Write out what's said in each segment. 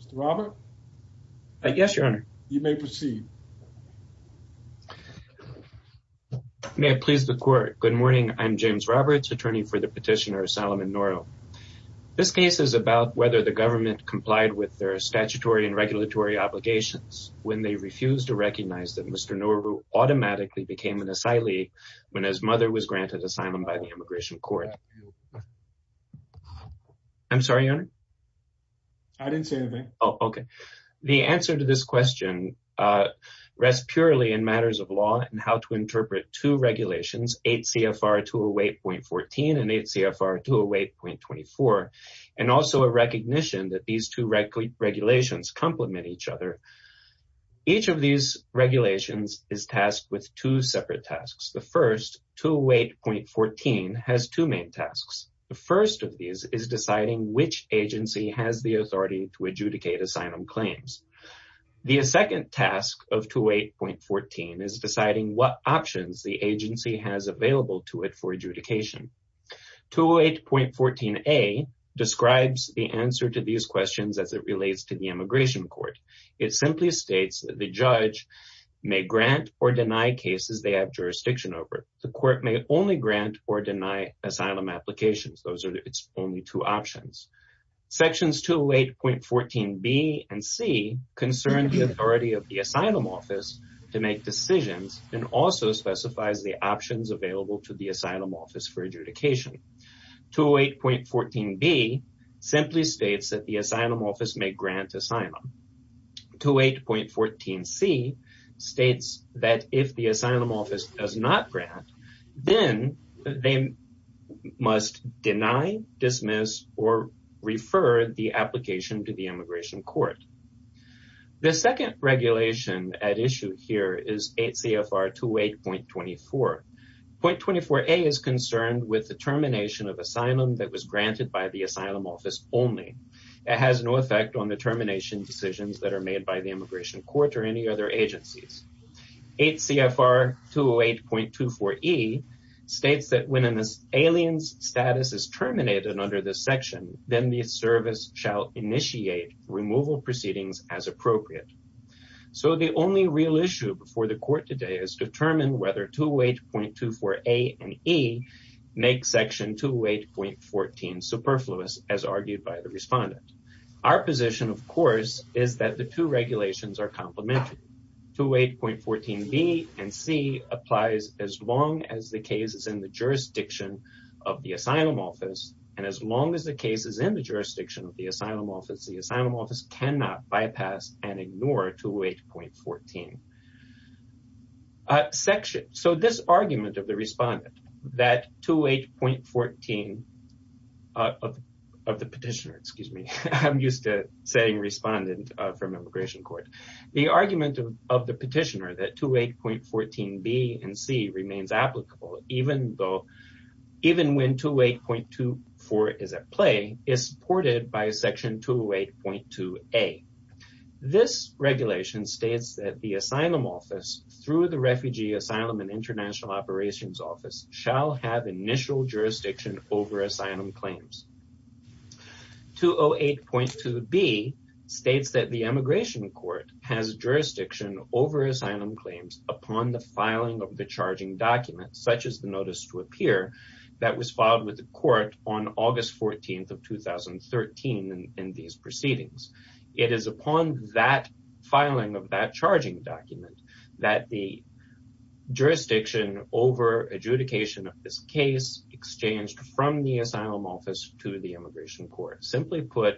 Mr. Robert? Yes, your honor. You may proceed. May it please the court. Good morning, I'm James Roberts, attorney for the petitioner Solomon Nuru. This case is about whether the government complied with their statutory and regulatory obligations when they refused to recognize that Mr. Nuru automatically became an asylee when his mother was granted asylum by the immigration court. I'm sorry, your honor? I didn't say anything. Oh, okay. The answer to this question rests purely in matters of law and how to interpret two regulations 8 CFR 208.14 and 8 CFR 208.24 and also a recognition that these two regulations complement each other. Each of these regulations is tasked with two separate tasks. The first 208.14 has two main tasks. The first of these is deciding which agency has the authority to adjudicate asylum claims. The second task of 208.14 is deciding what options the agency has available to it for adjudication. 208.14a describes the answer to these questions as it relates to the immigration court. It simply states that the judge may grant or deny cases they have jurisdiction over. The court may only grant or deny asylum applications. Those are its only two options. Sections 208.14b and c concern the authority of the asylum office to make decisions and also specifies the options available to the asylum office for adjudication. 208.14b simply states that the asylum office may grant asylum. 208.14c states that if the asylum office does not grant, then they must deny, dismiss, or refer the application to the immigration court. The second regulation at issue here is 8 CFR 208.24. Point 24a is concerned with the termination of asylum that was granted by the asylum office only. It has no effect on the termination decisions that are made by the immigration court or any other agencies. 8 CFR 208.24e states that when an alien's status is terminated under this section, then the service shall initiate removal proceedings as appropriate. So the only real issue before the court today is to determine whether 208.24a and e make section 208.14 superfluous, as argued by the respondent. Our position, of course, is that the two regulations are complementary. 208.14b and c applies as long as the case is in the jurisdiction of the asylum office, and as long as the case is in the jurisdiction of the asylum office, the asylum office cannot bypass and ignore 208.14. So this argument of the respondent that 208.14 of the petitioner, excuse me, I'm used to saying respondent from immigration court, the argument of the petitioner that 208.14b and c remains applicable even when 208.24 is at play is supported by section 208.2a. This regulation states that the asylum office, through the refugee asylum and international operations office, shall have initial jurisdiction over asylum claims. 208.2b states that the immigration court has jurisdiction over asylum claims upon the filing of the charging document, such as the of 2013 in these proceedings. It is upon that filing of that charging document that the jurisdiction over adjudication of this case exchanged from the asylum office to the immigration court. Simply put,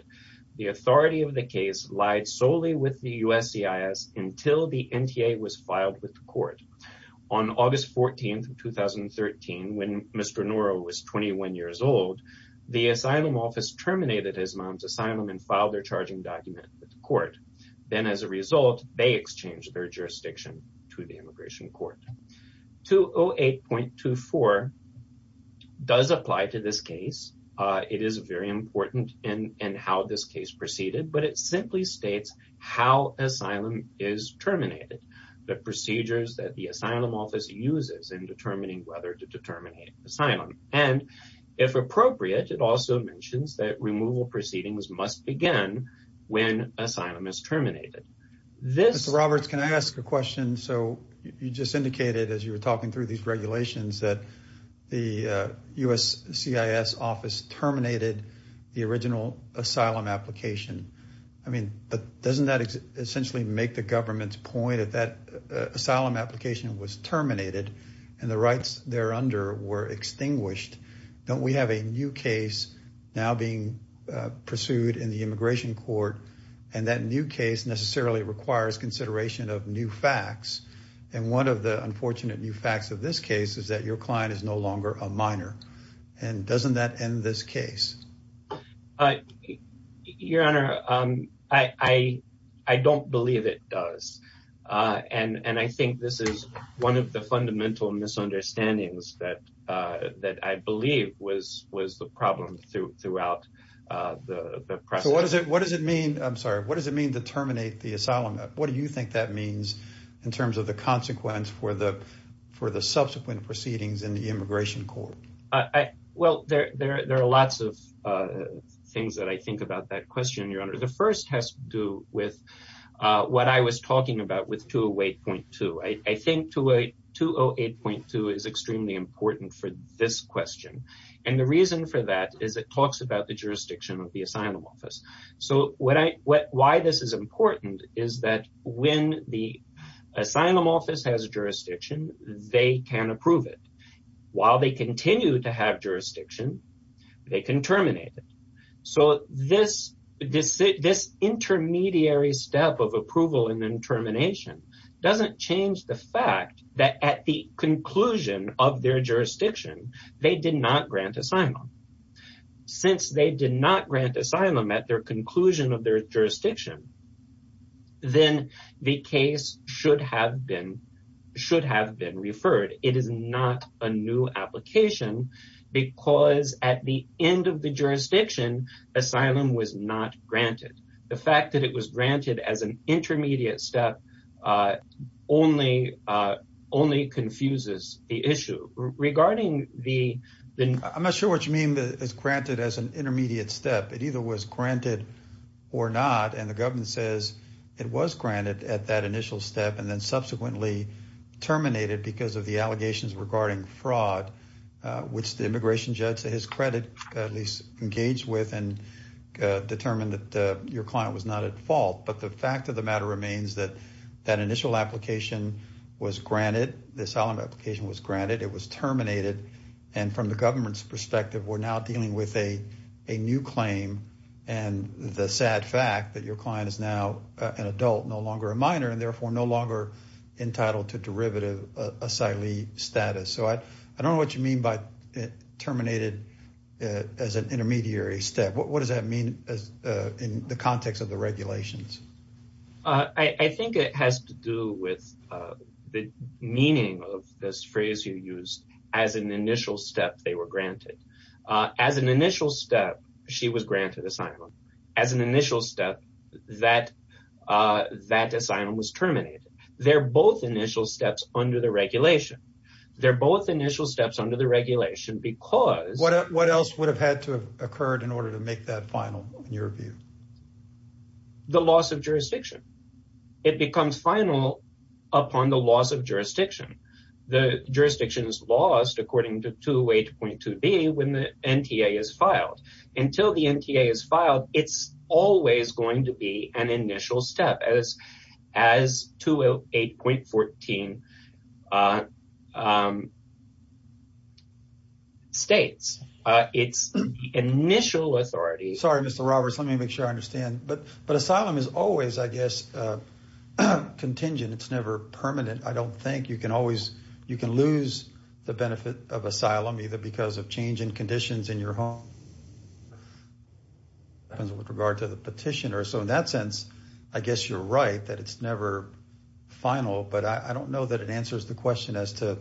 the authority of the case lied solely with the USCIS until the NTA was the asylum office terminated his mom's asylum and filed their charging document with the court. Then as a result, they exchanged their jurisdiction to the immigration court. 208.24 does apply to this case. It is very important in how this case proceeded, but it simply states how asylum is terminated, the procedures that the asylum office uses in determining whether to terminate asylum. It also mentions that removal proceedings must begin when asylum is terminated. Mr. Roberts, can I ask a question? So you just indicated as you were talking through these regulations that the USCIS office terminated the original asylum application. I mean, but doesn't that essentially make the government's point that that asylum application was terminated and the rights there under were extinguished? Don't we have a new case now being pursued in the immigration court? And that new case necessarily requires consideration of new facts. And one of the unfortunate new facts of this case is that your client is no longer a minor. And doesn't that end this case? Your Honor, I don't believe it does. And I think this is one of the fundamental misunderstandings that I believe was the problem throughout the process. So what does it mean? I'm sorry. What does it mean to terminate the asylum? What do you think that means in terms of the consequence for the subsequent proceedings in the immigration court? Well, there are lots of things that I think about that question, Your Honor. The first has to do with what I was talking about with 208.2. I think 208.2 is extremely important for this question. And the reason for that is it talks about the jurisdiction of the asylum office. So why this is important is that when the asylum office has a jurisdiction, they can approve it. While they continue to have jurisdiction, they can terminate it. So this intermediary step of approval and then termination doesn't change the fact that at the conclusion of their jurisdiction, they did not grant asylum. Since they did not grant asylum at their conclusion of their jurisdiction, then the case should have been referred. It is not a new application because at the end of the jurisdiction, asylum was not granted. The fact that it was granted as an intermediate step only confuses the issue. I'm not sure what you mean that it's granted as an intermediate step. It either was granted or not. And the government says it was granted at that initial step and then subsequently terminated because of the fraud, which the immigration judge, to his credit, at least engaged with and determined that your client was not at fault. But the fact of the matter remains that that initial application was granted. This asylum application was granted. It was terminated. And from the government's perspective, we're now dealing with a new claim and the sad fact that your client is now an adult, no longer a minor, and therefore no longer entitled to derivative asylum status. So I don't know what you mean by terminated as an intermediary step. What does that mean in the context of the regulations? I think it has to do with the meaning of this phrase you used as an initial step they granted. As an initial step, she was granted asylum. As an initial step, that asylum was terminated. They're both initial steps under the regulation. They're both initial steps under the regulation because... What else would have had to have occurred in order to make that final, in your view? The loss of jurisdiction. It becomes final upon the loss of jurisdiction. The jurisdiction is lost according to 2.8.2b when the NTA is filed. Until the NTA is filed, it's always going to be an initial step as 2.8.14 states. It's the initial authority... Sorry, Mr. Roberts. Let me make sure I understand. But asylum is always, I guess, contingent. It's never permanent. I don't think you can always, you can lose the benefit of asylum either because of change in conditions in your home. It depends with regard to the petitioner. So in that sense, I guess you're right that it's never final. But I don't know that it answers the question as to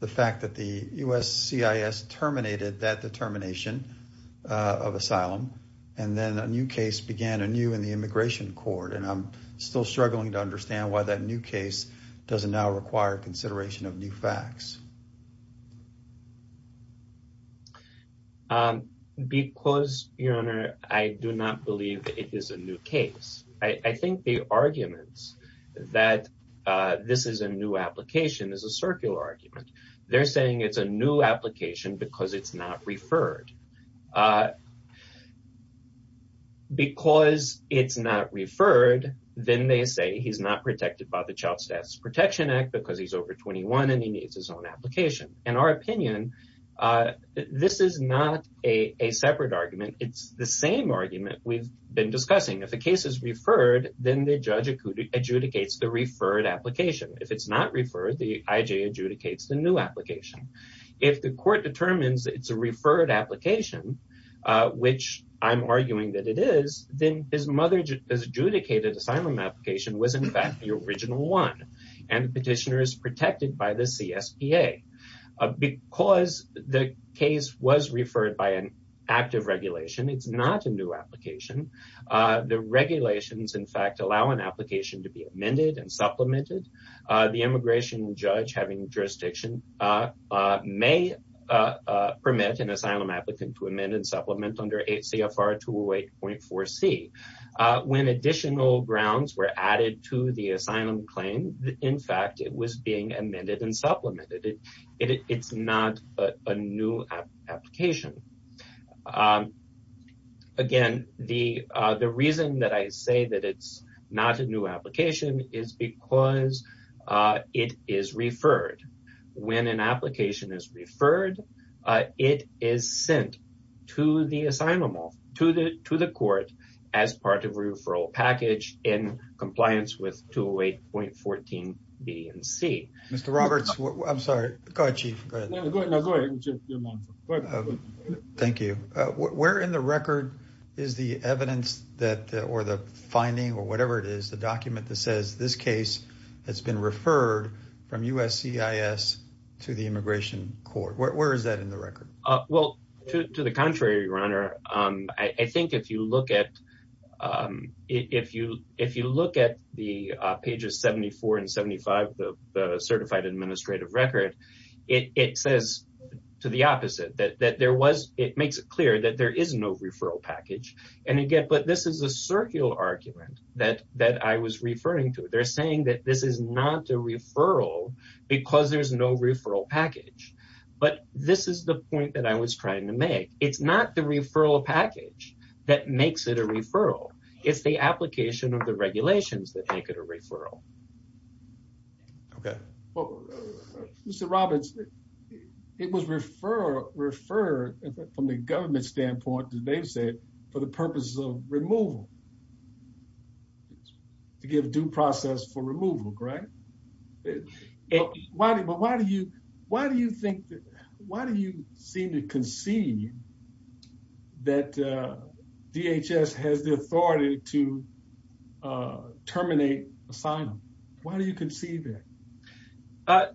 the fact that the USCIS terminated that determination of asylum. And then a new case began anew in the immigration court. And I'm still struggling to understand why that new case doesn't now require consideration of new facts. Because, Your Honor, I do not believe it is a new case. I think the arguments that this is a new application is a circular argument. They're saying it's a new application because it's not referred. Because it's not referred, then they say he's not protected by the Child Status Protection Act because he's over 21 and he needs his own application. In our opinion, this is not a separate argument. It's the same argument we've been discussing. If the case is referred, then the judge adjudicates the referred application. If it's not referred, the IJ adjudicates the new application, which I'm arguing that it is, then his mother's adjudicated asylum application was, in fact, the original one. And the petitioner is protected by the CSPA. Because the case was referred by an active regulation, it's not a new application. The regulations, in fact, allow an application to be amended and supplemented. The immigration judge having jurisdiction may permit an asylum applicant to amend and supplement under 8 CFR 208.4c. When additional grounds were added to the asylum claim, in fact, it was being amended and supplemented. It's not a new application. Again, the reason that I say that it's not a new application is because it is referred. When an application is referred, it is sent to the court as part of a referral package in compliance with 208.14b and c. Mr. Roberts, I'm sorry. Go ahead, Chief. Thank you. Where in the record is the evidence that, or the finding, or whatever it is, the document that says this case has been referred from USCIS to the immigration court? Where is that in the record? Well, to the contrary, Your Honor. I think if you look at the pages 74 and 75 of the certified administrative record, it says to the opposite. It makes it clear that there is no referral package. Again, this is a circular argument that I was referring to. They're saying that this is not a referral because there's no referral package. This is the point that I was trying to make. It's not the referral package that makes it a referral. It's the application of the regulations that make it a referral. Okay. Well, Mr. Roberts, it was referred from the government standpoint, as they've said, for the purpose of removal, to give due process for removal, correct? But why do you seem to concede that DHS has the authority to terminate asylum? Why do you concede that?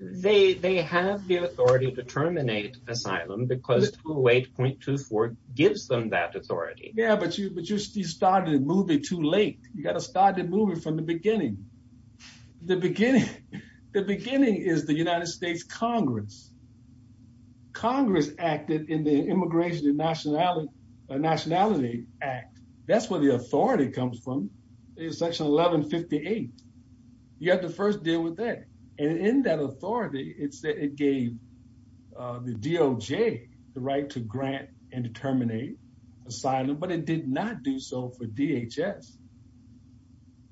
They have the authority to terminate asylum because 208.24 gives them that authority. Yeah, but you started the movie too late. You got to start the movie from the beginning. The beginning is the United States Congress. Congress acted in the Immigration and Nationality Act. That's where the authority comes from, section 1158. You have to first deal with that. And in that authority, it said it gave the DOJ the right to grant and terminate asylum, but it did not do so for DHS.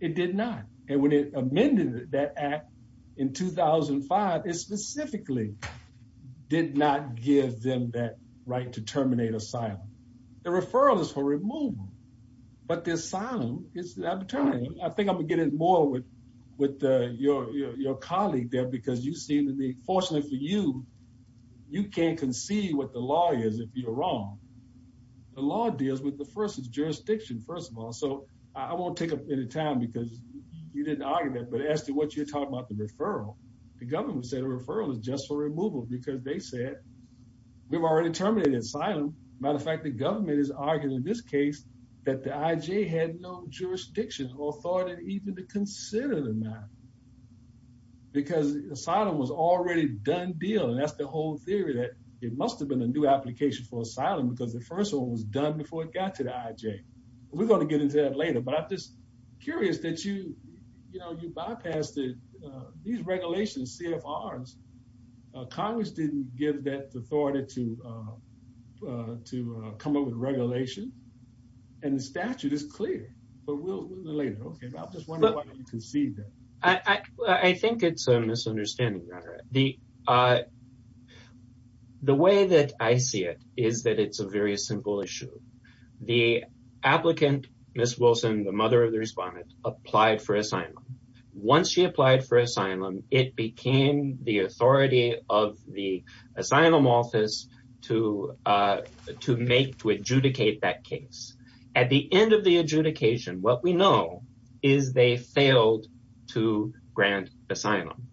It did not. And when it amended that act in 2005, it specifically did not give them that right to terminate asylum. The referral is for removal, but the asylum is the arbitrariness. I think I'm going to get in more with your colleague there because you seem to me, fortunately for you, you can't concede what the law is if you're wrong. The law deals with the time because you didn't argue that. But as to what you're talking about the referral, the government said a referral is just for removal because they said we've already terminated asylum. As a matter of fact, the government is arguing in this case that the IJ had no jurisdiction or authority even to consider them that because asylum was already done deal. And that's the whole theory that it must have been a new application for asylum because the first one was done before it got to the IJ. We're going to get into that later. But I'm just curious that you bypassed it. These regulations, CFRs, Congress didn't give that authority to come up with regulations. And the statute is clear. But we'll get into that later. I'm just wondering why you concede that. I think it's a misunderstanding. The way that I see it is that it's a very simple issue. The applicant, Ms. Wilson, the mother of the respondent, applied for asylum. Once she applied for asylum, it became the authority of the asylum office to make, to adjudicate that case. At the end of the adjudication, what we know is they failed to grant asylum.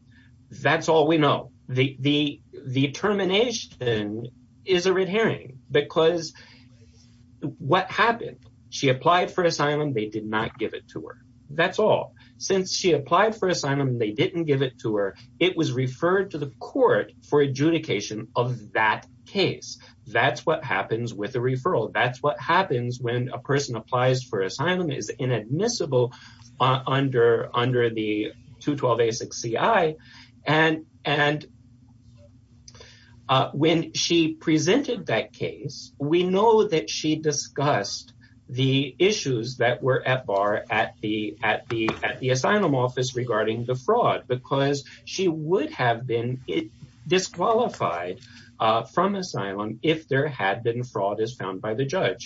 That's all we know. The termination is a red herring because what happened? She applied for asylum. They did not give it to her. That's all. Since she applied for asylum, they didn't give it to her. It was referred to the court for adjudication of that case. That's what happens with a referral. That's what happens when a person applies for asylum is inadmissible under the 212A6CI. When she presented that case, we know that she discussed the issues that were at bar at the asylum office regarding the fraud because she would have been disqualified from asylum if there had been fraud as found by the court.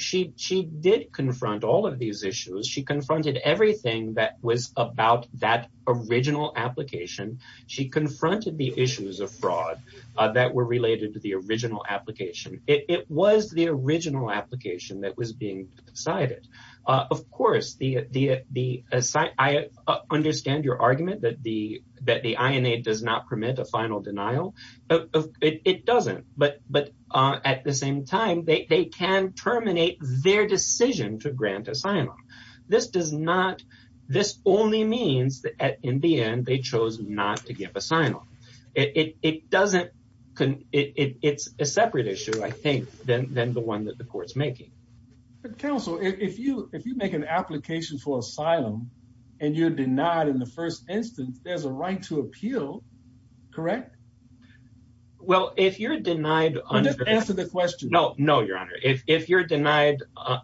She did confront all of these issues. She confronted everything that was about that original application. She confronted the issues of fraud that were related to the original application. It was the original application that was being decided. Of course, I understand your argument that the INA does not permit a final denial. It doesn't, but at the same time, they can terminate their decision to grant asylum. This only means that in the end, they chose not to give asylum. It's a separate issue, I think, than the one that the court's making. But counsel, if you make an application for asylum and you're denied in the first instance, there's a right to appeal, correct? Just answer the question. No, your honor. If you're denied under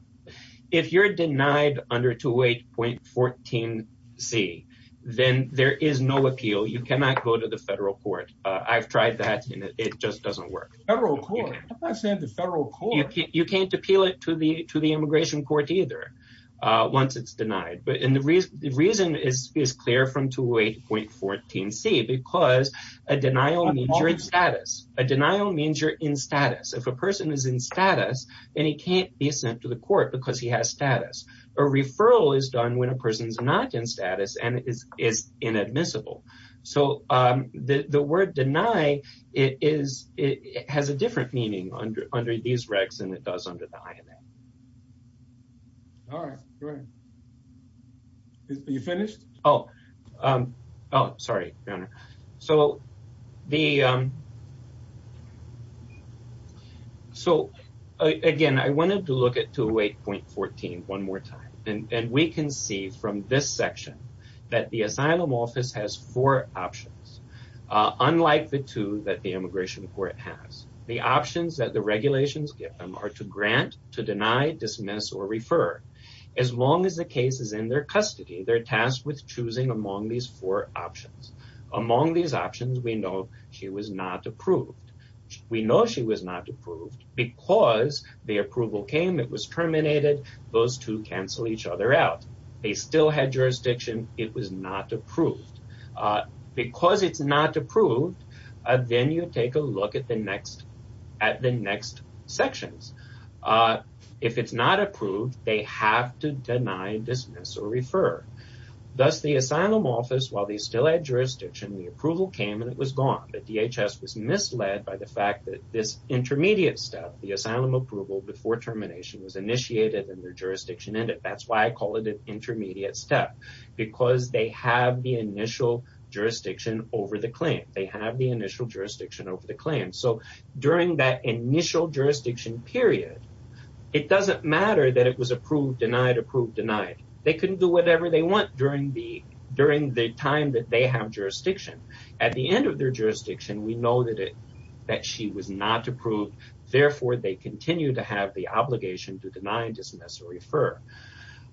208.14C, then there is no appeal. You cannot go to the federal court. I've tried that, and it just doesn't work. Federal court? I'm not saying the federal court. You can't appeal it to the immigration court either once it's denied. The reason is clear from 208.14C because a denial means you're in status. A denial means you're in status. If a person is in status, then he can't be sent to the court because he has status. A referral is done when a person is not in status and is inadmissible. The word deny has a different meaning under these terms. All right. Are you finished? Oh, sorry, your honor. So again, I wanted to look at 208.14 one more time. And we can see from this section that the asylum office has four options, unlike the two that the immigration court has. The options that the regulations give them are to grant, to deny, dismiss, or refer. As long as the case is in their custody, they're tasked with choosing among these four options. Among these options, we know she was not approved. We know she was not approved because the approval came. It was terminated. Those two cancel each other out. They still had jurisdiction. It was not approved. Because it's not approved, then you take a look at the next sections. If it's not approved, they have to deny, dismiss, or refer. Thus, the asylum office, while they still had jurisdiction, the approval came and it was gone. The DHS was misled by the fact that this intermediate step, the asylum approval before termination, was initiated and their jurisdiction ended. That's why I call it an intermediate step, because they have the initial jurisdiction over the claim. They have the initial jurisdiction over the claim. So, during that initial jurisdiction period, it doesn't matter that it was approved, denied, approved, denied. They can do whatever they want during the time that they have jurisdiction. At the end of their jurisdiction, we know that she was not approved. Therefore, they continue to have the obligation to deny, dismiss, or refer.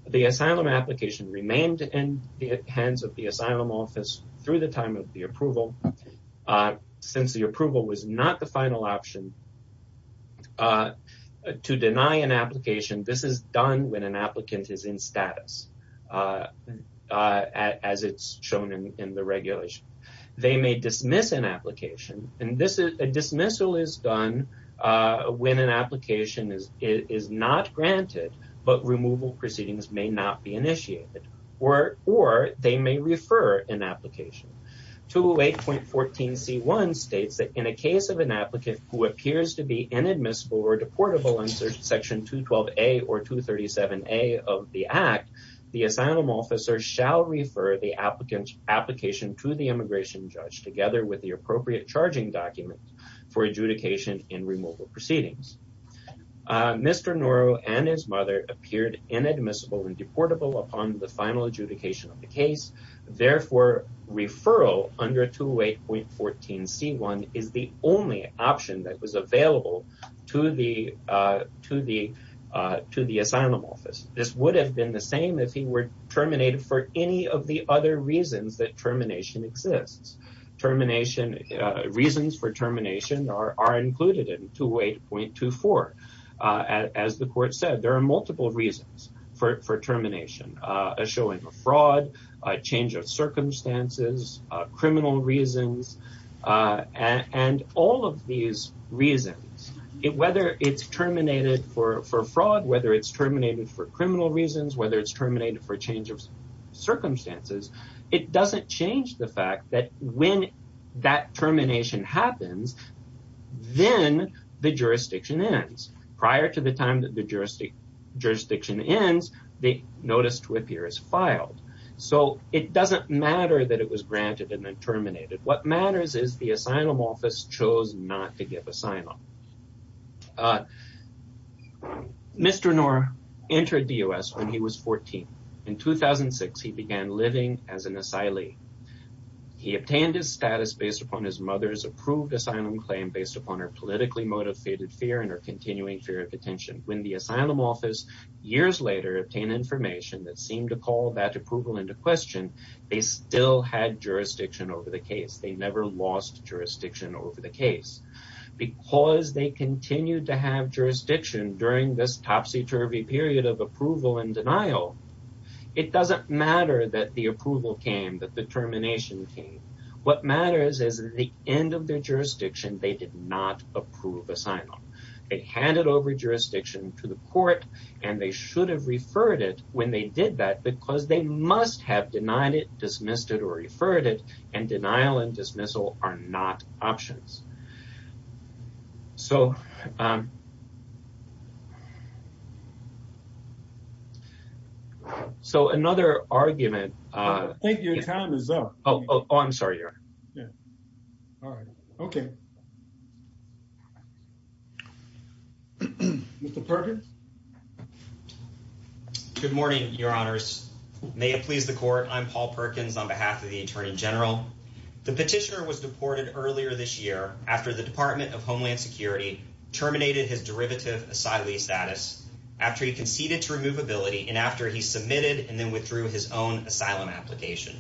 The asylum application remained in the hands of the asylum office through the time of the approval. Since the approval was not the final option to deny an application, this is done when an applicant is in status, as it's shown in the regulation. They may dismiss an application. A dismissal is done when an application is not granted, but removal proceedings may not be initiated, or they may refer an application. 208.14c1 states that in a case of an applicant who appears to be inadmissible or deportable under section 212a or 237a of the Act, the asylum officer shall refer the application to the immigration judge together with the appropriate charging document for adjudication in removal proceedings. Mr. Noro and his mother appeared inadmissible and deportable upon the final adjudication of the case. Therefore, referral under 208.14c1 is the only option that was available to the asylum office. This would have been the same if he were terminated for the other reasons that termination exists. Reasons for termination are included in 208.24. As the Court said, there are multiple reasons for termination. A showing of fraud, a change of circumstances, criminal reasons, and all of these reasons, whether it's terminated for fraud, whether it's terminated for criminal reasons, whether it's terminated for change of circumstances, it doesn't change the fact that when that termination happens, then the jurisdiction ends. Prior to the time that the jurisdiction ends, the notice to appear is filed. So, it doesn't matter that it was granted and then terminated. What matters is the asylum office chose not to enter the U.S. when he was 14. In 2006, he began living as an asylee. He obtained his status based upon his mother's approved asylum claim based upon her politically motivated fear and her continuing fear of detention. When the asylum office, years later, obtained information that seemed to call that approval into question, they still had jurisdiction over the case. They never lost jurisdiction over the case. Because they continued to have jurisdiction during this topsy-turvy period of approval and denial, it doesn't matter that the approval came, that the termination came. What matters is at the end of their jurisdiction, they did not approve asylum. They handed over jurisdiction to the Court and they should have referred it when they did that because they must have denied it, dismissed it, or referred it, and denial and dismissal are not options. So, um, so another argument, uh, I think your time is up. Oh, oh, I'm sorry. Yeah. All right. Okay. Mr. Perkins. Good morning, your honors. May it please the Court. I'm Paul Perkins on behalf of the Attorney General. The petitioner was deported earlier this year after the Department of Homeland Security terminated his derivative asylee status after he conceded to removability and after he submitted and then withdrew his own asylum application.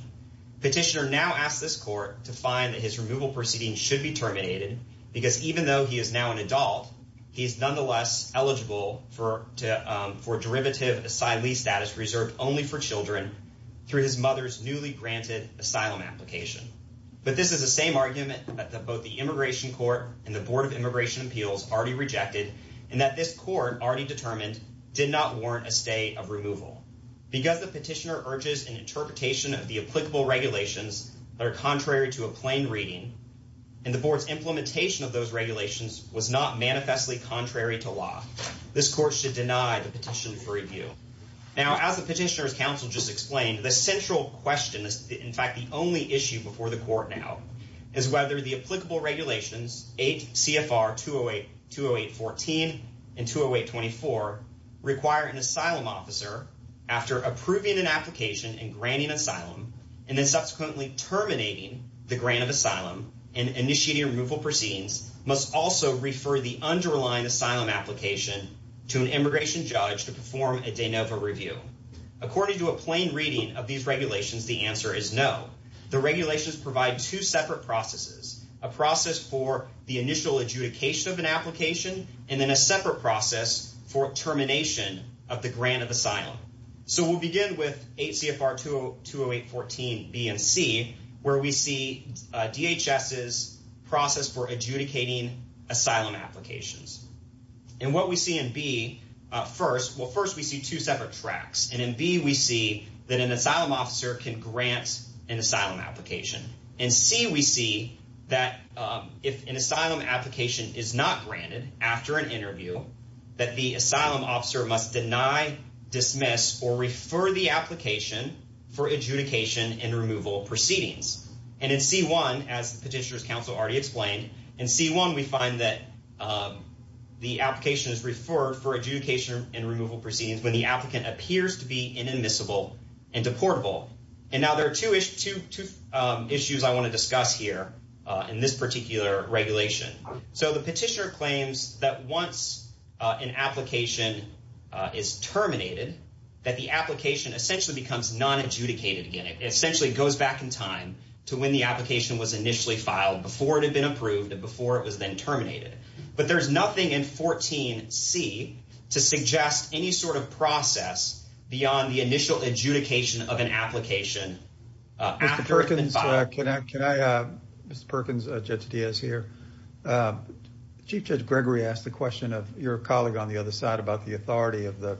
Petitioner now asks this Court to find that his removal proceeding should be terminated because even though he is now an adult, he is nonetheless eligible for, um, for derivative asylee status reserved only for children through his mother's newly granted asylum application. But this is the same argument that both the Immigration Court and the Board of Immigration Appeals already rejected and that this Court already determined did not warrant a stay of removal because the petitioner urges an interpretation of the applicable regulations that are contrary to a plain reading and the Board's implementation of those regulations was not manifestly contrary to law. This Court should deny the petition for review. Now, as the petitioner's counsel just explained, the central question is, in fact, the only issue before the Court now is whether the applicable regulations 8 CFR 208, 208-14 and 208-24 require an asylum officer after approving an application and granting asylum and then subsequently terminating the grant of asylum and initiating removal proceedings must also refer the underlying asylum application to an immigration judge to perform a de novo review. According to a plain reading of these regulations, the answer is no. The regulations provide two separate processes, a process for the initial adjudication of an application and then a separate process for termination of the grant of asylum. So we'll adjudicating asylum applications and what we see in B first. Well, first we see two separate tracks and in B we see that an asylum officer can grant an asylum application and C we see that if an asylum application is not granted after an interview that the asylum officer must deny, dismiss or refer the application for adjudication and removal proceedings and in C1 as the petitioner's already explained in C1 we find that the application is referred for adjudication and removal proceedings when the applicant appears to be inadmissible and deportable. And now there are two issues I want to discuss here in this particular regulation. So the petitioner claims that once an application is terminated that the application essentially becomes non-adjudicated again. It essentially goes back in time to when the application was initially filed, before it had been approved, and before it was then terminated. But there's nothing in 14 C to suggest any sort of process beyond the initial adjudication of an application. Mr. Perkins, Judge Diaz here. Chief Judge Gregory asked the question of your colleague on the other side about the authority of the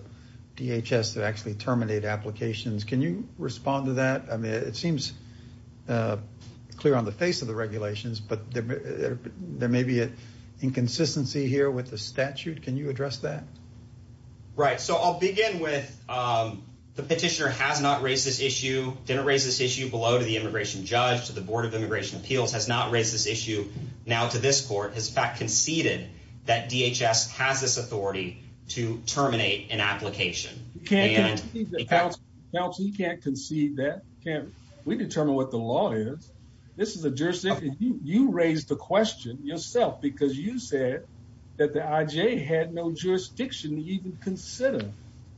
DHS to actually terminate applications. Can you respond to that? I mean, it seems clear on the face of the regulations, but there may be an inconsistency here with the statute. Can you address that? Right. So I'll begin with the petitioner has not raised this issue, didn't raise this issue below to the immigration judge, to the Board of Immigration Appeals, has not raised this issue now to this court, has in fact conceded that DHS has this authority to terminate an application. Counsel, you can't concede that. We determine what the law is. This is a jurisdiction. You raised the question yourself because you said that the IJ had no jurisdiction to even consider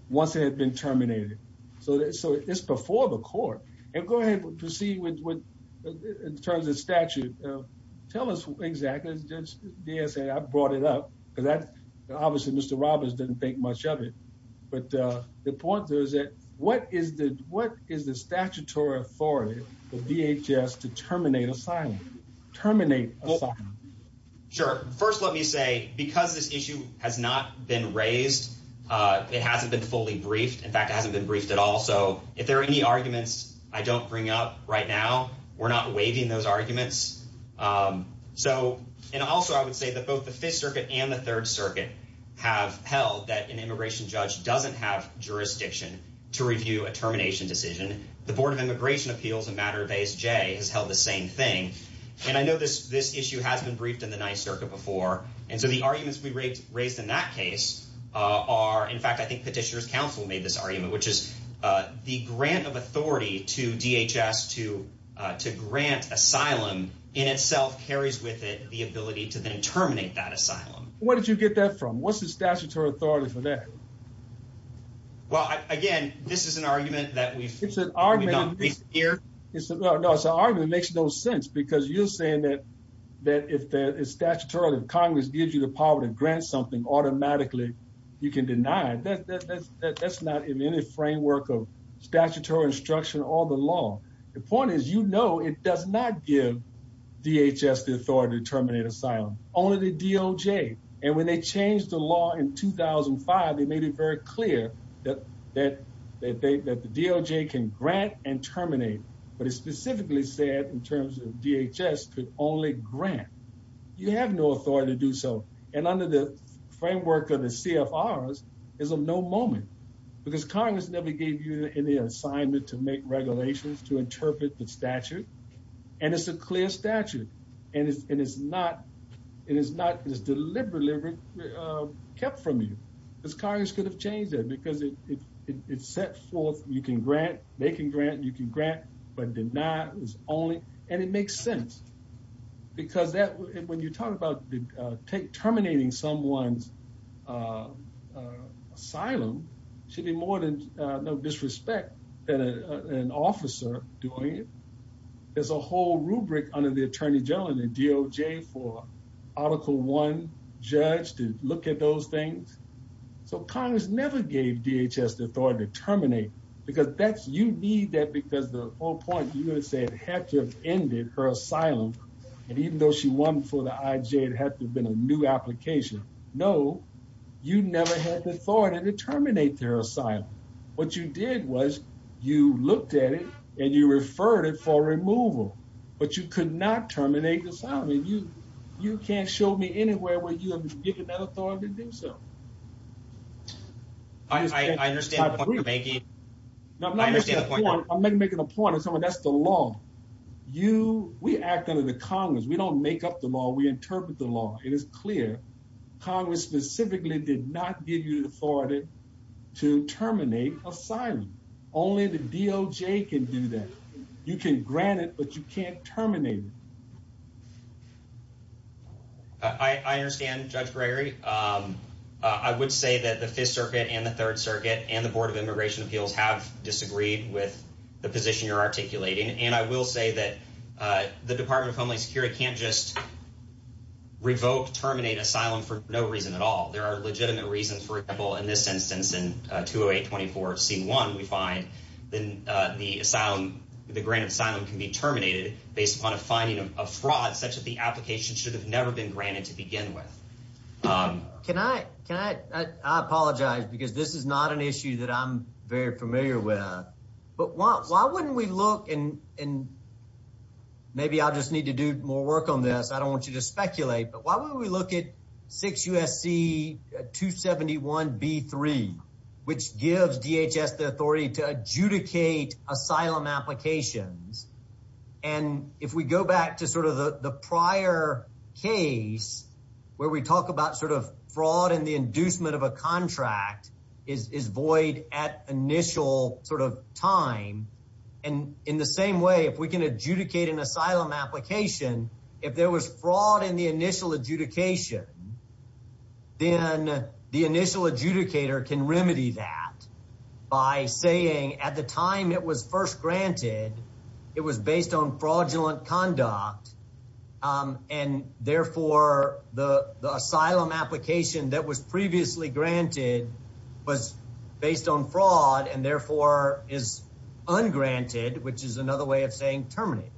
once it had been terminated. So it's before the court. And go ahead and proceed with in terms of statute. Tell us exactly. I brought it up because obviously Mr. Roberts didn't think much of it. But the point is that what is the what is the statutory authority of DHS to terminate assignment, terminate? Sure. First, let me say, because this issue has not been raised, it hasn't been fully briefed. In fact, it hasn't been briefed at all. So if there are any arguments I don't bring up right now, we're not waiving those arguments. So and also I would say that both the Fifth Circuit and the Third Circuit have held that an immigration judge doesn't have jurisdiction to review a termination decision. The Board of Immigration Appeals, a matter of Ace J, has held the same thing. And I know this this issue has been briefed in the Ninth Circuit before. And so the arguments we raised raised in that case are, in fact, I think Petitioner's Counsel made this argument, which is the grant of authority to DHS to to grant asylum in itself carries with it the ability to then terminate that asylum. Where did you get that from? What's the statutory authority for that? Well, again, this is an argument that we've it's an argument here. It's an argument makes no sense because you're saying that that if the statutory Congress gives you the power to grant something automatically, you can deny it. That's not in any framework of all the law. The point is, you know, it does not give DHS the authority to terminate asylum. Only the DOJ. And when they changed the law in 2005, they made it very clear that that they that the DOJ can grant and terminate. But it specifically said in terms of DHS could only grant. You have no authority to do so. And under the framework of the CFRs is a no moment because Congress never gave you any assignment to make regulations to interpret the statute. And it's a clear statute. And it's not it is not it is deliberately kept from you. This Congress could have changed that because it's set forth you can grant, they can grant, you can grant, but deny is only and it makes sense. Because that when you talk about the take terminating someone's asylum should be more no disrespect than an officer doing it. There's a whole rubric under the Attorney General and the DOJ for Article One judge to look at those things. So Congress never gave DHS the authority to terminate because that's you need that because the whole point you would say it had to have ended her asylum. And even though she won for the IJ, it had to have been a new application. No, you never had the authority to terminate their asylum. What you did was you looked at it and you referred it for removal. But you could not terminate the asylum. You can't show me anywhere where you have given that authority to do so. I understand the point you're making. I'm making a point. That's the law. We act under the Congress. We don't make up the law. We Congress specifically did not give you the authority to terminate asylum. Only the DOJ can do that. You can grant it, but you can't terminate it. I understand Judge Gregory. I would say that the Fifth Circuit and the Third Circuit and the Board of Immigration Appeals have disagreed with the position you're articulating. And I will say that the Department of Homeland Security can't just revoke, terminate asylum for no reason at all. There are legitimate reasons. For example, in this instance, in 208-24-C1, we find then the asylum, the granted asylum can be terminated based upon a finding of fraud such that the application should have never been granted to begin with. Can I, can I, I apologize because this is not an issue that I'm very familiar with. But why, why wouldn't we look and maybe I'll just need to do more work on this. I don't want you to speculate, but why wouldn't we look at 6 U.S.C. 271-B3, which gives DHS the authority to adjudicate asylum applications. And if we go back to sort of the prior case where we talk about sort of fraud and the inducement of a contract is, is void at initial sort of time. And in the same way, if we can adjudicate an asylum application, if there was fraud in the initial adjudication, then the initial adjudicator can remedy that by saying at the time it was first granted, it was based on fraudulent conduct. And therefore, the asylum application that was previously granted was based on fraud and therefore is ungranted, which is another way of saying terminated.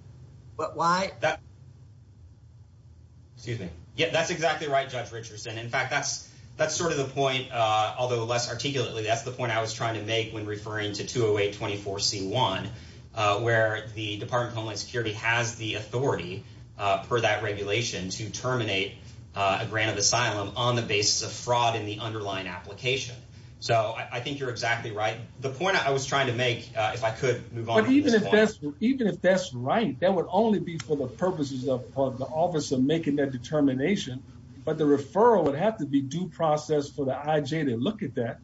But why that, excuse me? Yeah, that's exactly right. Judge Richardson. In fact, that's, that's sort of the point, although less articulately, that's the point I was trying to make when referring to 208-24C1, where the Department of Homeland Security has the authority per that regulation to terminate a grant of asylum on the basis of fraud in the underlying application. So I think you're exactly right. The point I was trying to make, if I could move on. But even if that's, even if that's right, that would only be for the purposes of the office of making that determination. But the referral would have to be due process for the IJ to look at that.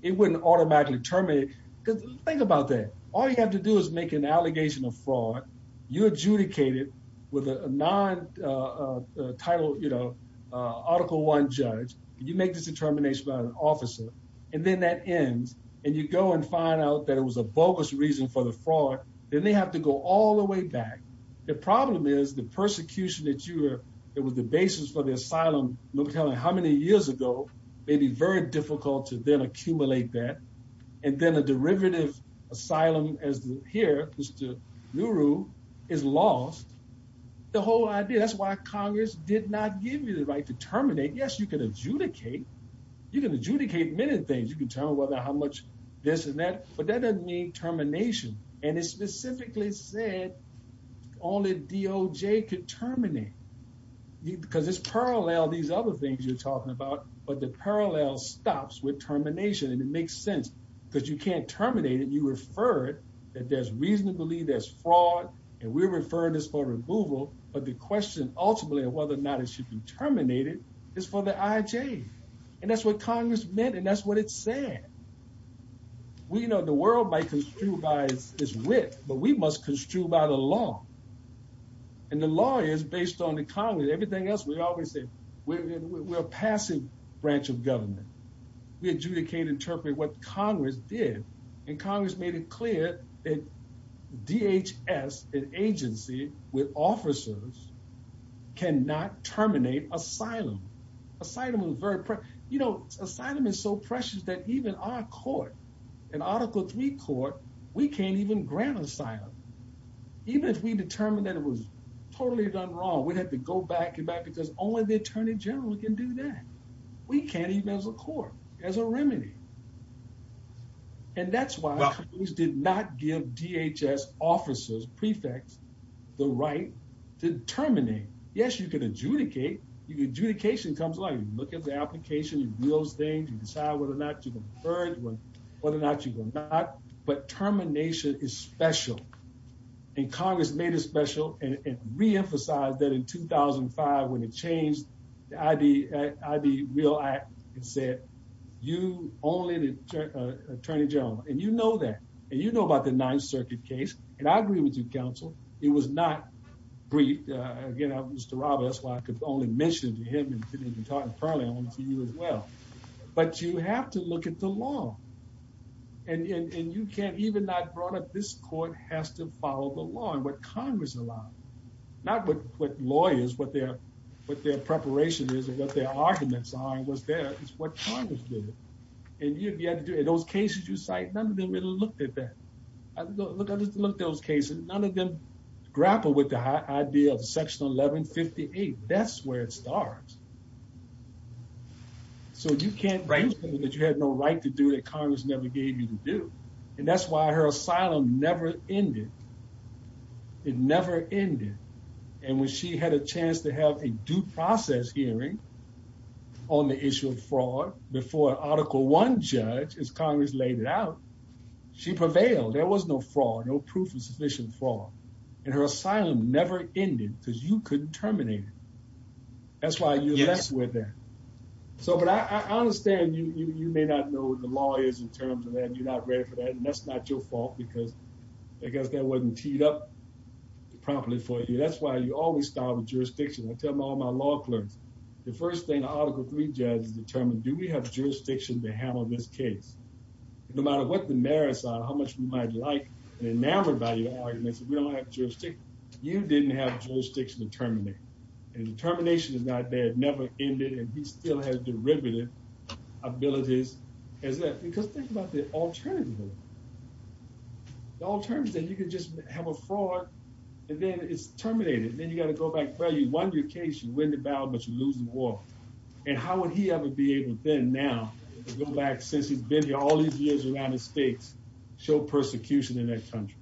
It wouldn't automatically terminate. Think about that. All you have to do is make an allegation of fraud. You adjudicate it with a non-title, you know, Article I judge. You make this determination by an officer. And then that ends. And you go and find out that it was a bogus reason for the fraud. Then they have to go all the way back. The problem is the persecution that you were, that was the basis for the asylum, let me tell you how many years ago, may be very difficult to then accumulate that. And then a derivative asylum as here, Mr. Nuru, is lost. The whole idea, that's why Congress did not give you the right to terminate. Yes, you can adjudicate. You can adjudicate many things. You can tell whether how much this and that, but that doesn't mean termination. And it specifically said only DOJ could terminate. Because it's parallel, these other things you're talking about, but the parallel stops with termination. And it makes sense because you can't terminate it. You refer it that there's reason to believe there's fraud and we're referring this for removal. But the question ultimately of whether or not it should be terminated is for the IJ. And that's what Congress meant. And that's what it said. We know the world might construe by its wit, but we must construe by the law. And the law is based on the Congress. Everything else, we always say we're a passive branch of government. We adjudicate, interpret what Congress did. And Congress made it clear that DHS, an agency with officers, cannot terminate asylum. Asylum was very precious. You know, asylum is so precious that even our court, an Article 3 court, we can't even grant asylum. Even if we determined that it was totally done wrong, we'd have to go back and back because only the Attorney General can do that. We can't even as a court, as a remedy. And that's why Congress did not give DHS officers, prefects, the right to terminate. Yes, you can adjudicate. Your adjudication comes along. You look at the application, you do those things, you decide whether or not you can purge, whether or not you can not. But termination is special. And Congress made it special and re-emphasized that in 2005, when it changed the ID Real Act, it said, you only the Attorney General. And you know that. And you know about the Ninth Circuit case. And I agree with you, counsel. It was not briefed. Again, Mr. Roberts, that's why I could only mention it to him and didn't even talk in front of him to you as well. But you have to look at the law. And you can't even not brought up this court has to follow the law and what Congress allowed. Not what lawyers, what their preparation is and what their arguments are and what's there, it's what Congress did. And you had to do it. Those cases you cite, none of them really looked at that. Look, I just looked at those cases. None of them grappled with the idea of Section 1158. That's where it starts. So you can't bring people that you had no right to do that Congress never gave you to do. And that's why her asylum never ended. It never ended. And when she had a chance to have a due process hearing on the issue of fraud before Article I judge, as Congress laid it out, she prevailed. There was no fraud, no proof of sufficient fraud. And her asylum never ended because you couldn't terminate it. That's why you're less with that. So but I understand you may not know what the law is in terms of that. You're not ready for that. And that's not your fault, because I guess that wasn't teed up properly for you. That's why you always start with jurisdiction. I tell all my law clerks, the first thing Article III judges determine, do we have jurisdiction to handle this case? No matter what the merits are, how much we might like and enamored by your arguments, we don't have jurisdiction. You didn't have jurisdiction to terminate. And the termination is not there, never ended, and we still have derivative abilities as that. Because think about the alternative. The alternative, you could just have a fraud, and then it's terminated. Then you got to go back, well, you won your case, you win the battle, but you're losing the war. And how would he ever be able then now to go back since he's been here all these years around the states, show persecution in that country?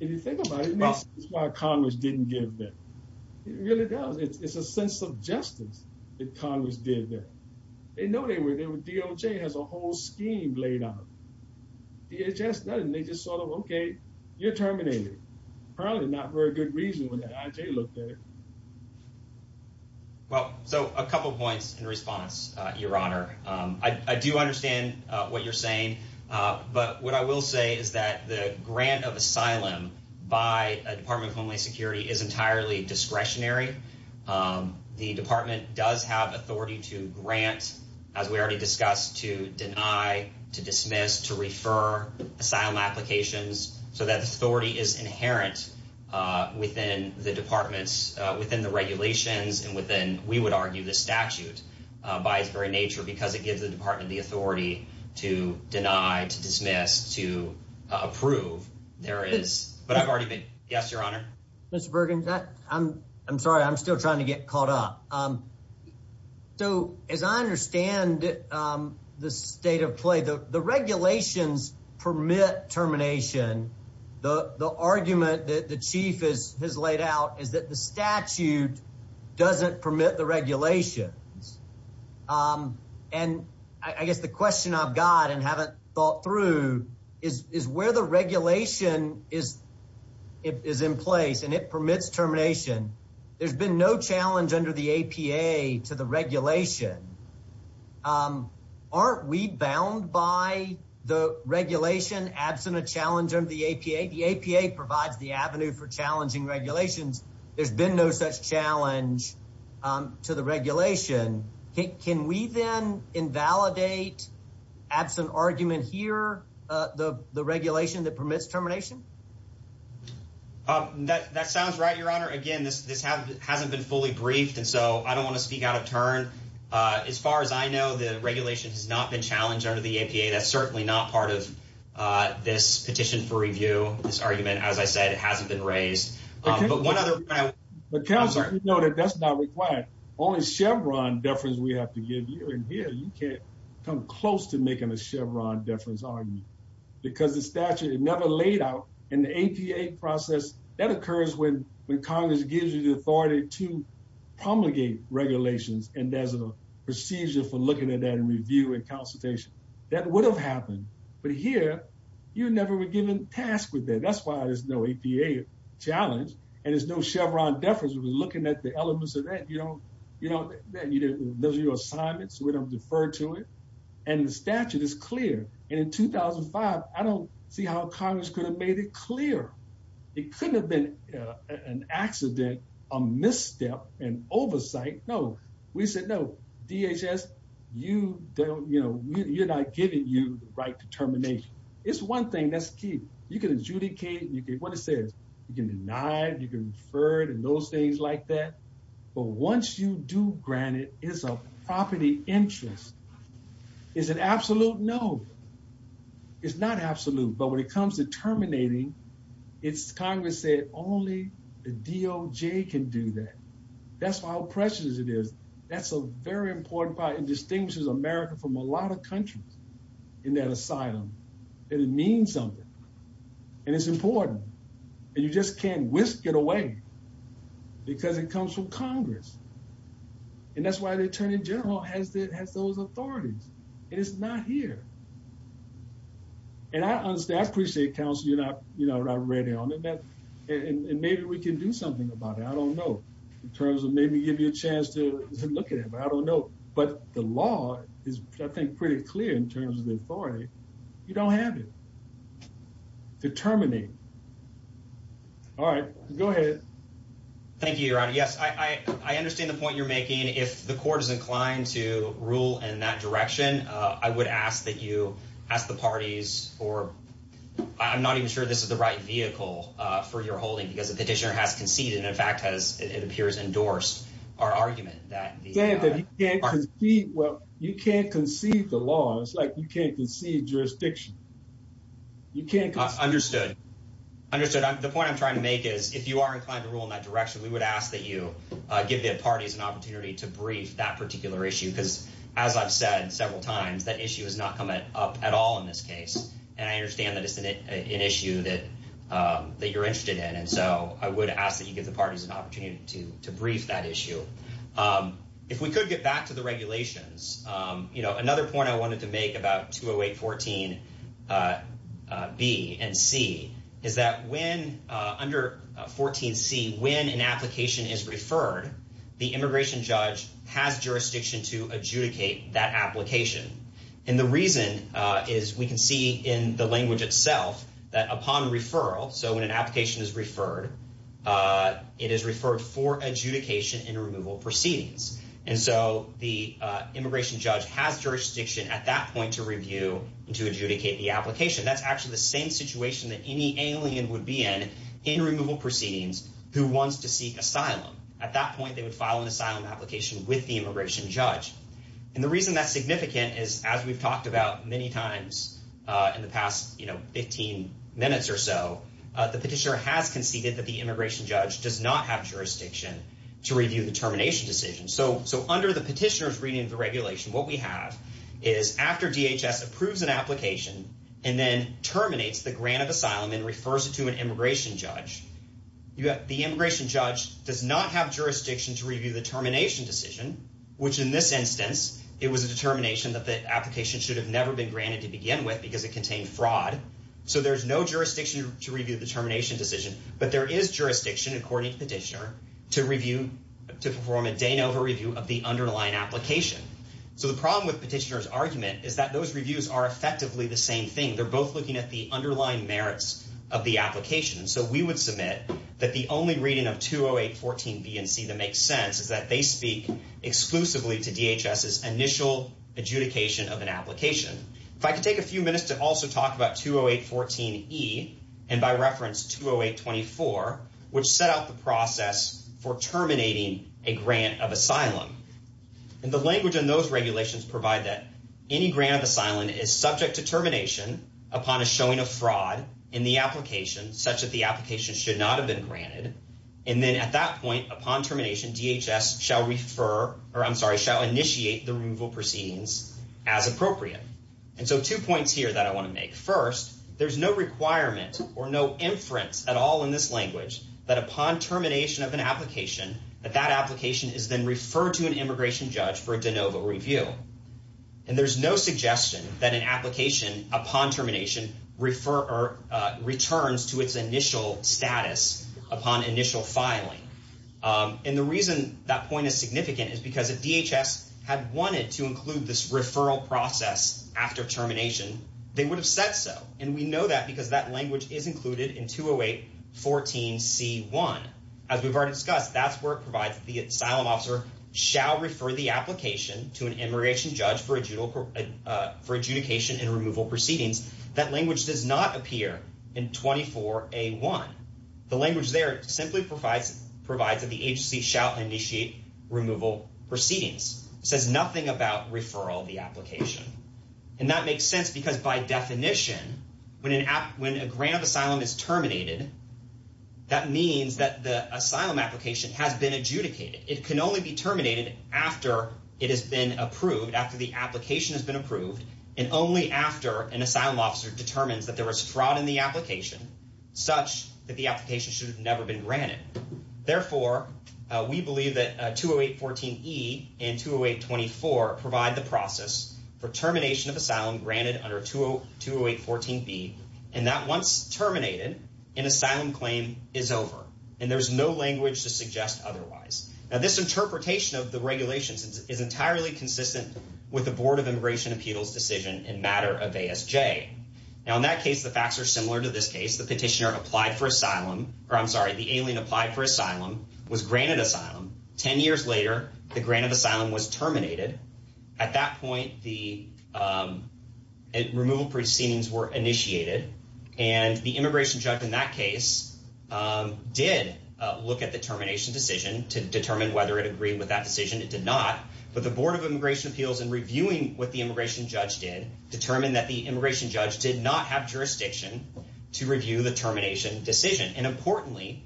If you think about it, this is why Congress didn't give that. It really does. It's a sense of justice that Congress did that. They know they were there. DOJ has a whole scheme laid out. DHS doesn't. They just sort of, okay, you're terminated. Apparently not for a good reason when the DOJ looked at it. Well, so a couple of points in response, Your Honor. I do understand what you're saying, but what I will say is that the grant of asylum by a Department of Homeland Security is entirely discretionary. The department does have authority to grant, as we already discussed, to deny, to dismiss, to refer asylum applications, so that authority is the department's within the regulations and within, we would argue, the statute by its very nature because it gives the department the authority to deny, to dismiss, to approve. There is, but I've already been, yes, Your Honor. Mr. Bergen, I'm sorry. I'm still trying to get caught up. So as I understand the state of play, the regulations permit termination. The argument that the chief has laid out is that the statute doesn't permit the regulations. And I guess the question I've got and haven't thought through is where the regulation is in place and it permits termination. There's been no challenge under the APA to the regulation. Aren't we bound by the regulation, absent a challenge under the APA? The APA provides the avenue for challenging regulations. There's been no such challenge to the regulation. Can we then invalidate, absent argument here, the regulation that permits termination? That sounds right, Your Honor. Again, this hasn't been fully briefed, and so I don't want to speak out of turn. As far as I know, the regulation has not been challenged under the APA. That's certainly not part of this petition for review, this argument. As I said, it hasn't been raised. But one other- But Counselor, you know that that's not required. Only Chevron deference we have to give you. And here, you can't come close to making a Chevron deference argument because the statute never laid out in the APA process. That occurs when Congress gives you the authority to promulgate regulations, and there's a procedure for looking at that in review and consultation. That would have happened. But here, you never were given task with that. That's why there's no APA challenge, and there's no Chevron deference. We're looking at the elements of that. You don't- Those are your assignments. We don't defer to it. And the statute is clear. And in 2005, I don't see how Congress could have made it clear. It couldn't have been an accident, a misstep, an oversight. No. We said, no, DHS, you don't- You're not giving you the right determination. It's one thing that's key. You can adjudicate. What it says, you can deny, you can defer, and those things like that. But once you do grant it, it's a property interest. Is it absolute? No. It's not absolute. But when it comes to terminating, it's- Congress said only the DOJ can do that. That's how precious it is. That's a very important part. It distinguishes America from a lot of countries in that asylum. And it means something. And it's important. And you just can't whisk it away because it comes from Congress. And that's why the Attorney General has those authorities. And it's not here. And I understand. I appreciate, counsel, you're not ready on it. And maybe we can do something about it. I don't know. In terms of maybe give you a chance to look at it. But I don't know. But the law is, I think, pretty clear in terms of the authority. You don't have it to terminate. All right. Go ahead. Thank you, Your Honor. Yes. I understand the point you're making. If the court is inclined to rule in that direction, I would ask that you ask the parties or- I'm not even sure this is the right vehicle for your holding because the petitioner has conceded and, in fact, it appears endorsed our argument that- You can't concede the law. It's like you can't concede jurisdiction. You can't- Understood. Understood. The point I'm trying to make is if you are inclined to rule in that direction, we would ask that you give the parties an opportunity to brief that particular issue because, as I've said several times, that issue has not come up at all in this case. And I understand that it's an issue that you're interested in. And so I would ask that you give the parties an opportunity to brief that issue. If we could get back to the regulations, another point I wanted to make about 20814B and C is that when- Under 14C, when an immigration judge has jurisdiction to adjudicate that application- And the reason is we can see in the language itself that upon referral, so when an application is referred, it is referred for adjudication in removal proceedings. And so the immigration judge has jurisdiction at that point to review and to adjudicate the application. That's actually the same situation that any alien would be in in removal proceedings who wants to seek asylum. At that point, they would file an asylum application with the immigration judge. And the reason that's significant is, as we've talked about many times in the past 15 minutes or so, the petitioner has conceded that the immigration judge does not have jurisdiction to review the termination decision. So under the petitioner's reading of the regulation, what we have is after DHS approves an application and then terminates the grant of asylum and refers it to an immigration judge, the immigration judge does not have jurisdiction to review the termination decision, which in this instance, it was a determination that the application should have never been granted to begin with because it contained fraud. So there's no jurisdiction to review the termination decision, but there is jurisdiction according to petitioner to review, to perform a Danova review of the underlying application. So the problem with petitioner's argument is that those reviews are effectively the same thing. They're both looking at the underlying merits of the application. So we would submit that the only reading of 20814B and C that makes sense is that they speak exclusively to DHS's initial adjudication of an application. If I could take a few minutes to also talk about 20814E and by reference 20824, which set out the process for terminating a grant of asylum. And the language in those regulations provide that any grant of fraud in the application such that the application should not have been granted. And then at that point, upon termination, DHS shall refer, or I'm sorry, shall initiate the removal proceedings as appropriate. And so two points here that I want to make. First, there's no requirement or no inference at all in this language that upon termination of an application, that that application is then referred to an immigration judge for a Danova review. And there's no suggestion that an application upon termination returns to its initial status upon initial filing. And the reason that point is significant is because if DHS had wanted to include this referral process after termination, they would have said so. And we know that because that language is included in 20814C1. As we've already discussed, that's where it provides the asylum officer shall refer the application to an immigration judge for adjudication and removal proceedings. That language does not appear in 24A1. The language there simply provides that the agency shall initiate removal proceedings. It says nothing about referral of the application. And that makes sense because by definition, when a grant of asylum is terminated, that means that the asylum application has been adjudicated. It can only be terminated after it has been approved, after the application has been approved, and only after an asylum officer determines that there was fraud in the application, such that the application should have never been granted. Therefore, we believe that 20814E and 20824 provide the process for is over, and there's no language to suggest otherwise. Now, this interpretation of the regulations is entirely consistent with the Board of Immigration Appeals decision in matter of ASJ. Now, in that case, the facts are similar to this case. The petitioner applied for asylum, or I'm sorry, the alien applied for asylum, was granted asylum. Ten years later, the grant of asylum was terminated. At that point, the removal proceedings were initiated, and the immigration judge in that case did look at the termination decision to determine whether it agreed with that decision. It did not. But the Board of Immigration Appeals, in reviewing what the immigration judge did, determined that the immigration judge did not have jurisdiction to review the termination decision. And importantly,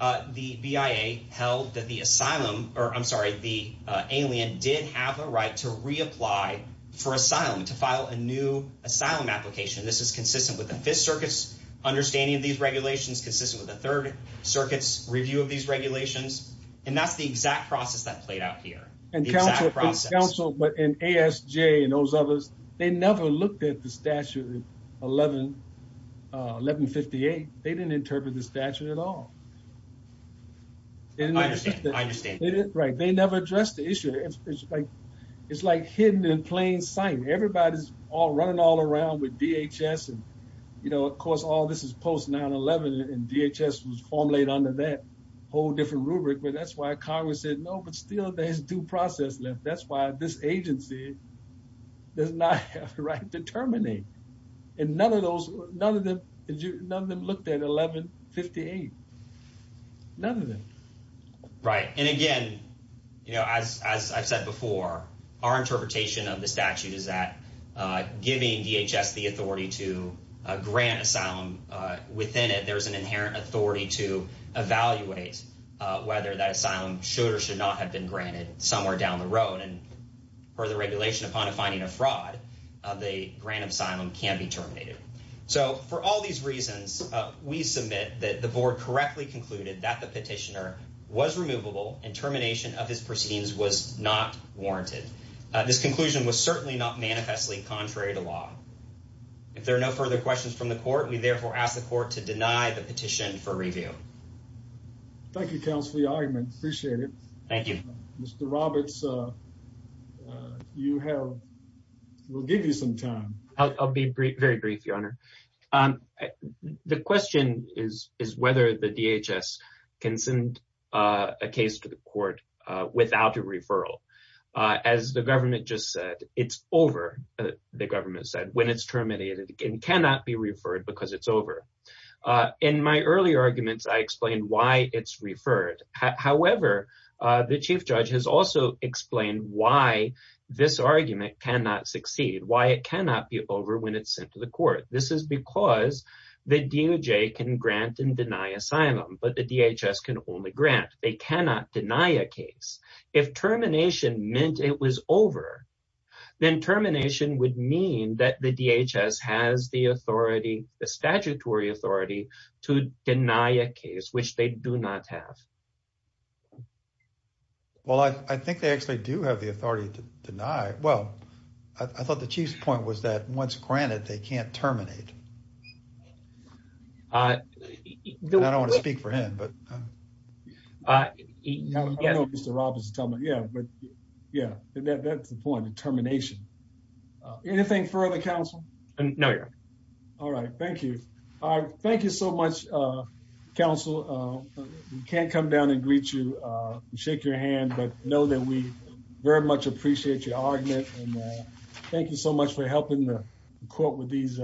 the BIA held that the asylum, or I'm sorry, the alien did have a right to reapply for asylum, to file a new asylum application. This is consistent with the Fifth Circuit's understanding of these regulations, consistent with the Third Circuit's review of these regulations, and that's the exact process that played out here. The exact process. And counsel, but in ASJ and those others, they never looked at the statute 1158. They didn't interpret the statute at all. I understand. Right. They never addressed the issue. It's like hidden in plain sight. Everybody's running all around with DHS and, you know, of course, all this is post 9-11, and DHS was formulated under that whole different rubric. But that's why Congress said, no, but still, there's due process left. That's why this agency does not have the right to terminate. And none of them looked at 1158. None of them. Right. And again, you know, as I've said before, our interpretation of the statute is that giving DHS the authority to grant asylum within it, there's an inherent authority to evaluate whether that asylum should or should not have been granted somewhere down the road. And per the regulation, upon finding a fraud, the grant of asylum can be terminated. So for all these reasons, we submit that the board correctly concluded that the this conclusion was certainly not manifestly contrary to law. If there are no further questions from the court, we therefore ask the court to deny the petition for review. Thank you, counsel, for your argument. Appreciate it. Thank you. Mr. Roberts, you have, we'll give you some time. I'll be very brief, your honor. The question is whether the government just said it's over, the government said when it's terminated and cannot be referred because it's over. In my earlier arguments, I explained why it's referred. However, the chief judge has also explained why this argument cannot succeed, why it cannot be over when it's sent to the court. This is because the DOJ can grant and deny asylum, but the DHS can only grant. They can't say it's over. Then termination would mean that the DHS has the authority, the statutory authority, to deny a case, which they do not have. Well, I think they actually do have the authority to deny. Well, I thought the chief's point was that once granted, they can't terminate. I don't want to speak for him, but. I know Mr. Roberts is telling me, yeah, but yeah, that's the point, the termination. Anything further, counsel? No, your honor. All right. Thank you. Thank you so much, counsel. We can't come down and greet you and shake your hand, but know that we very much appreciate your argument. Thank you so much for helping the court with these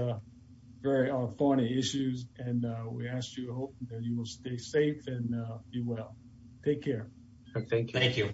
very thorny issues, and we ask you to hope that you will stay safe and be well. Take care. Thank you.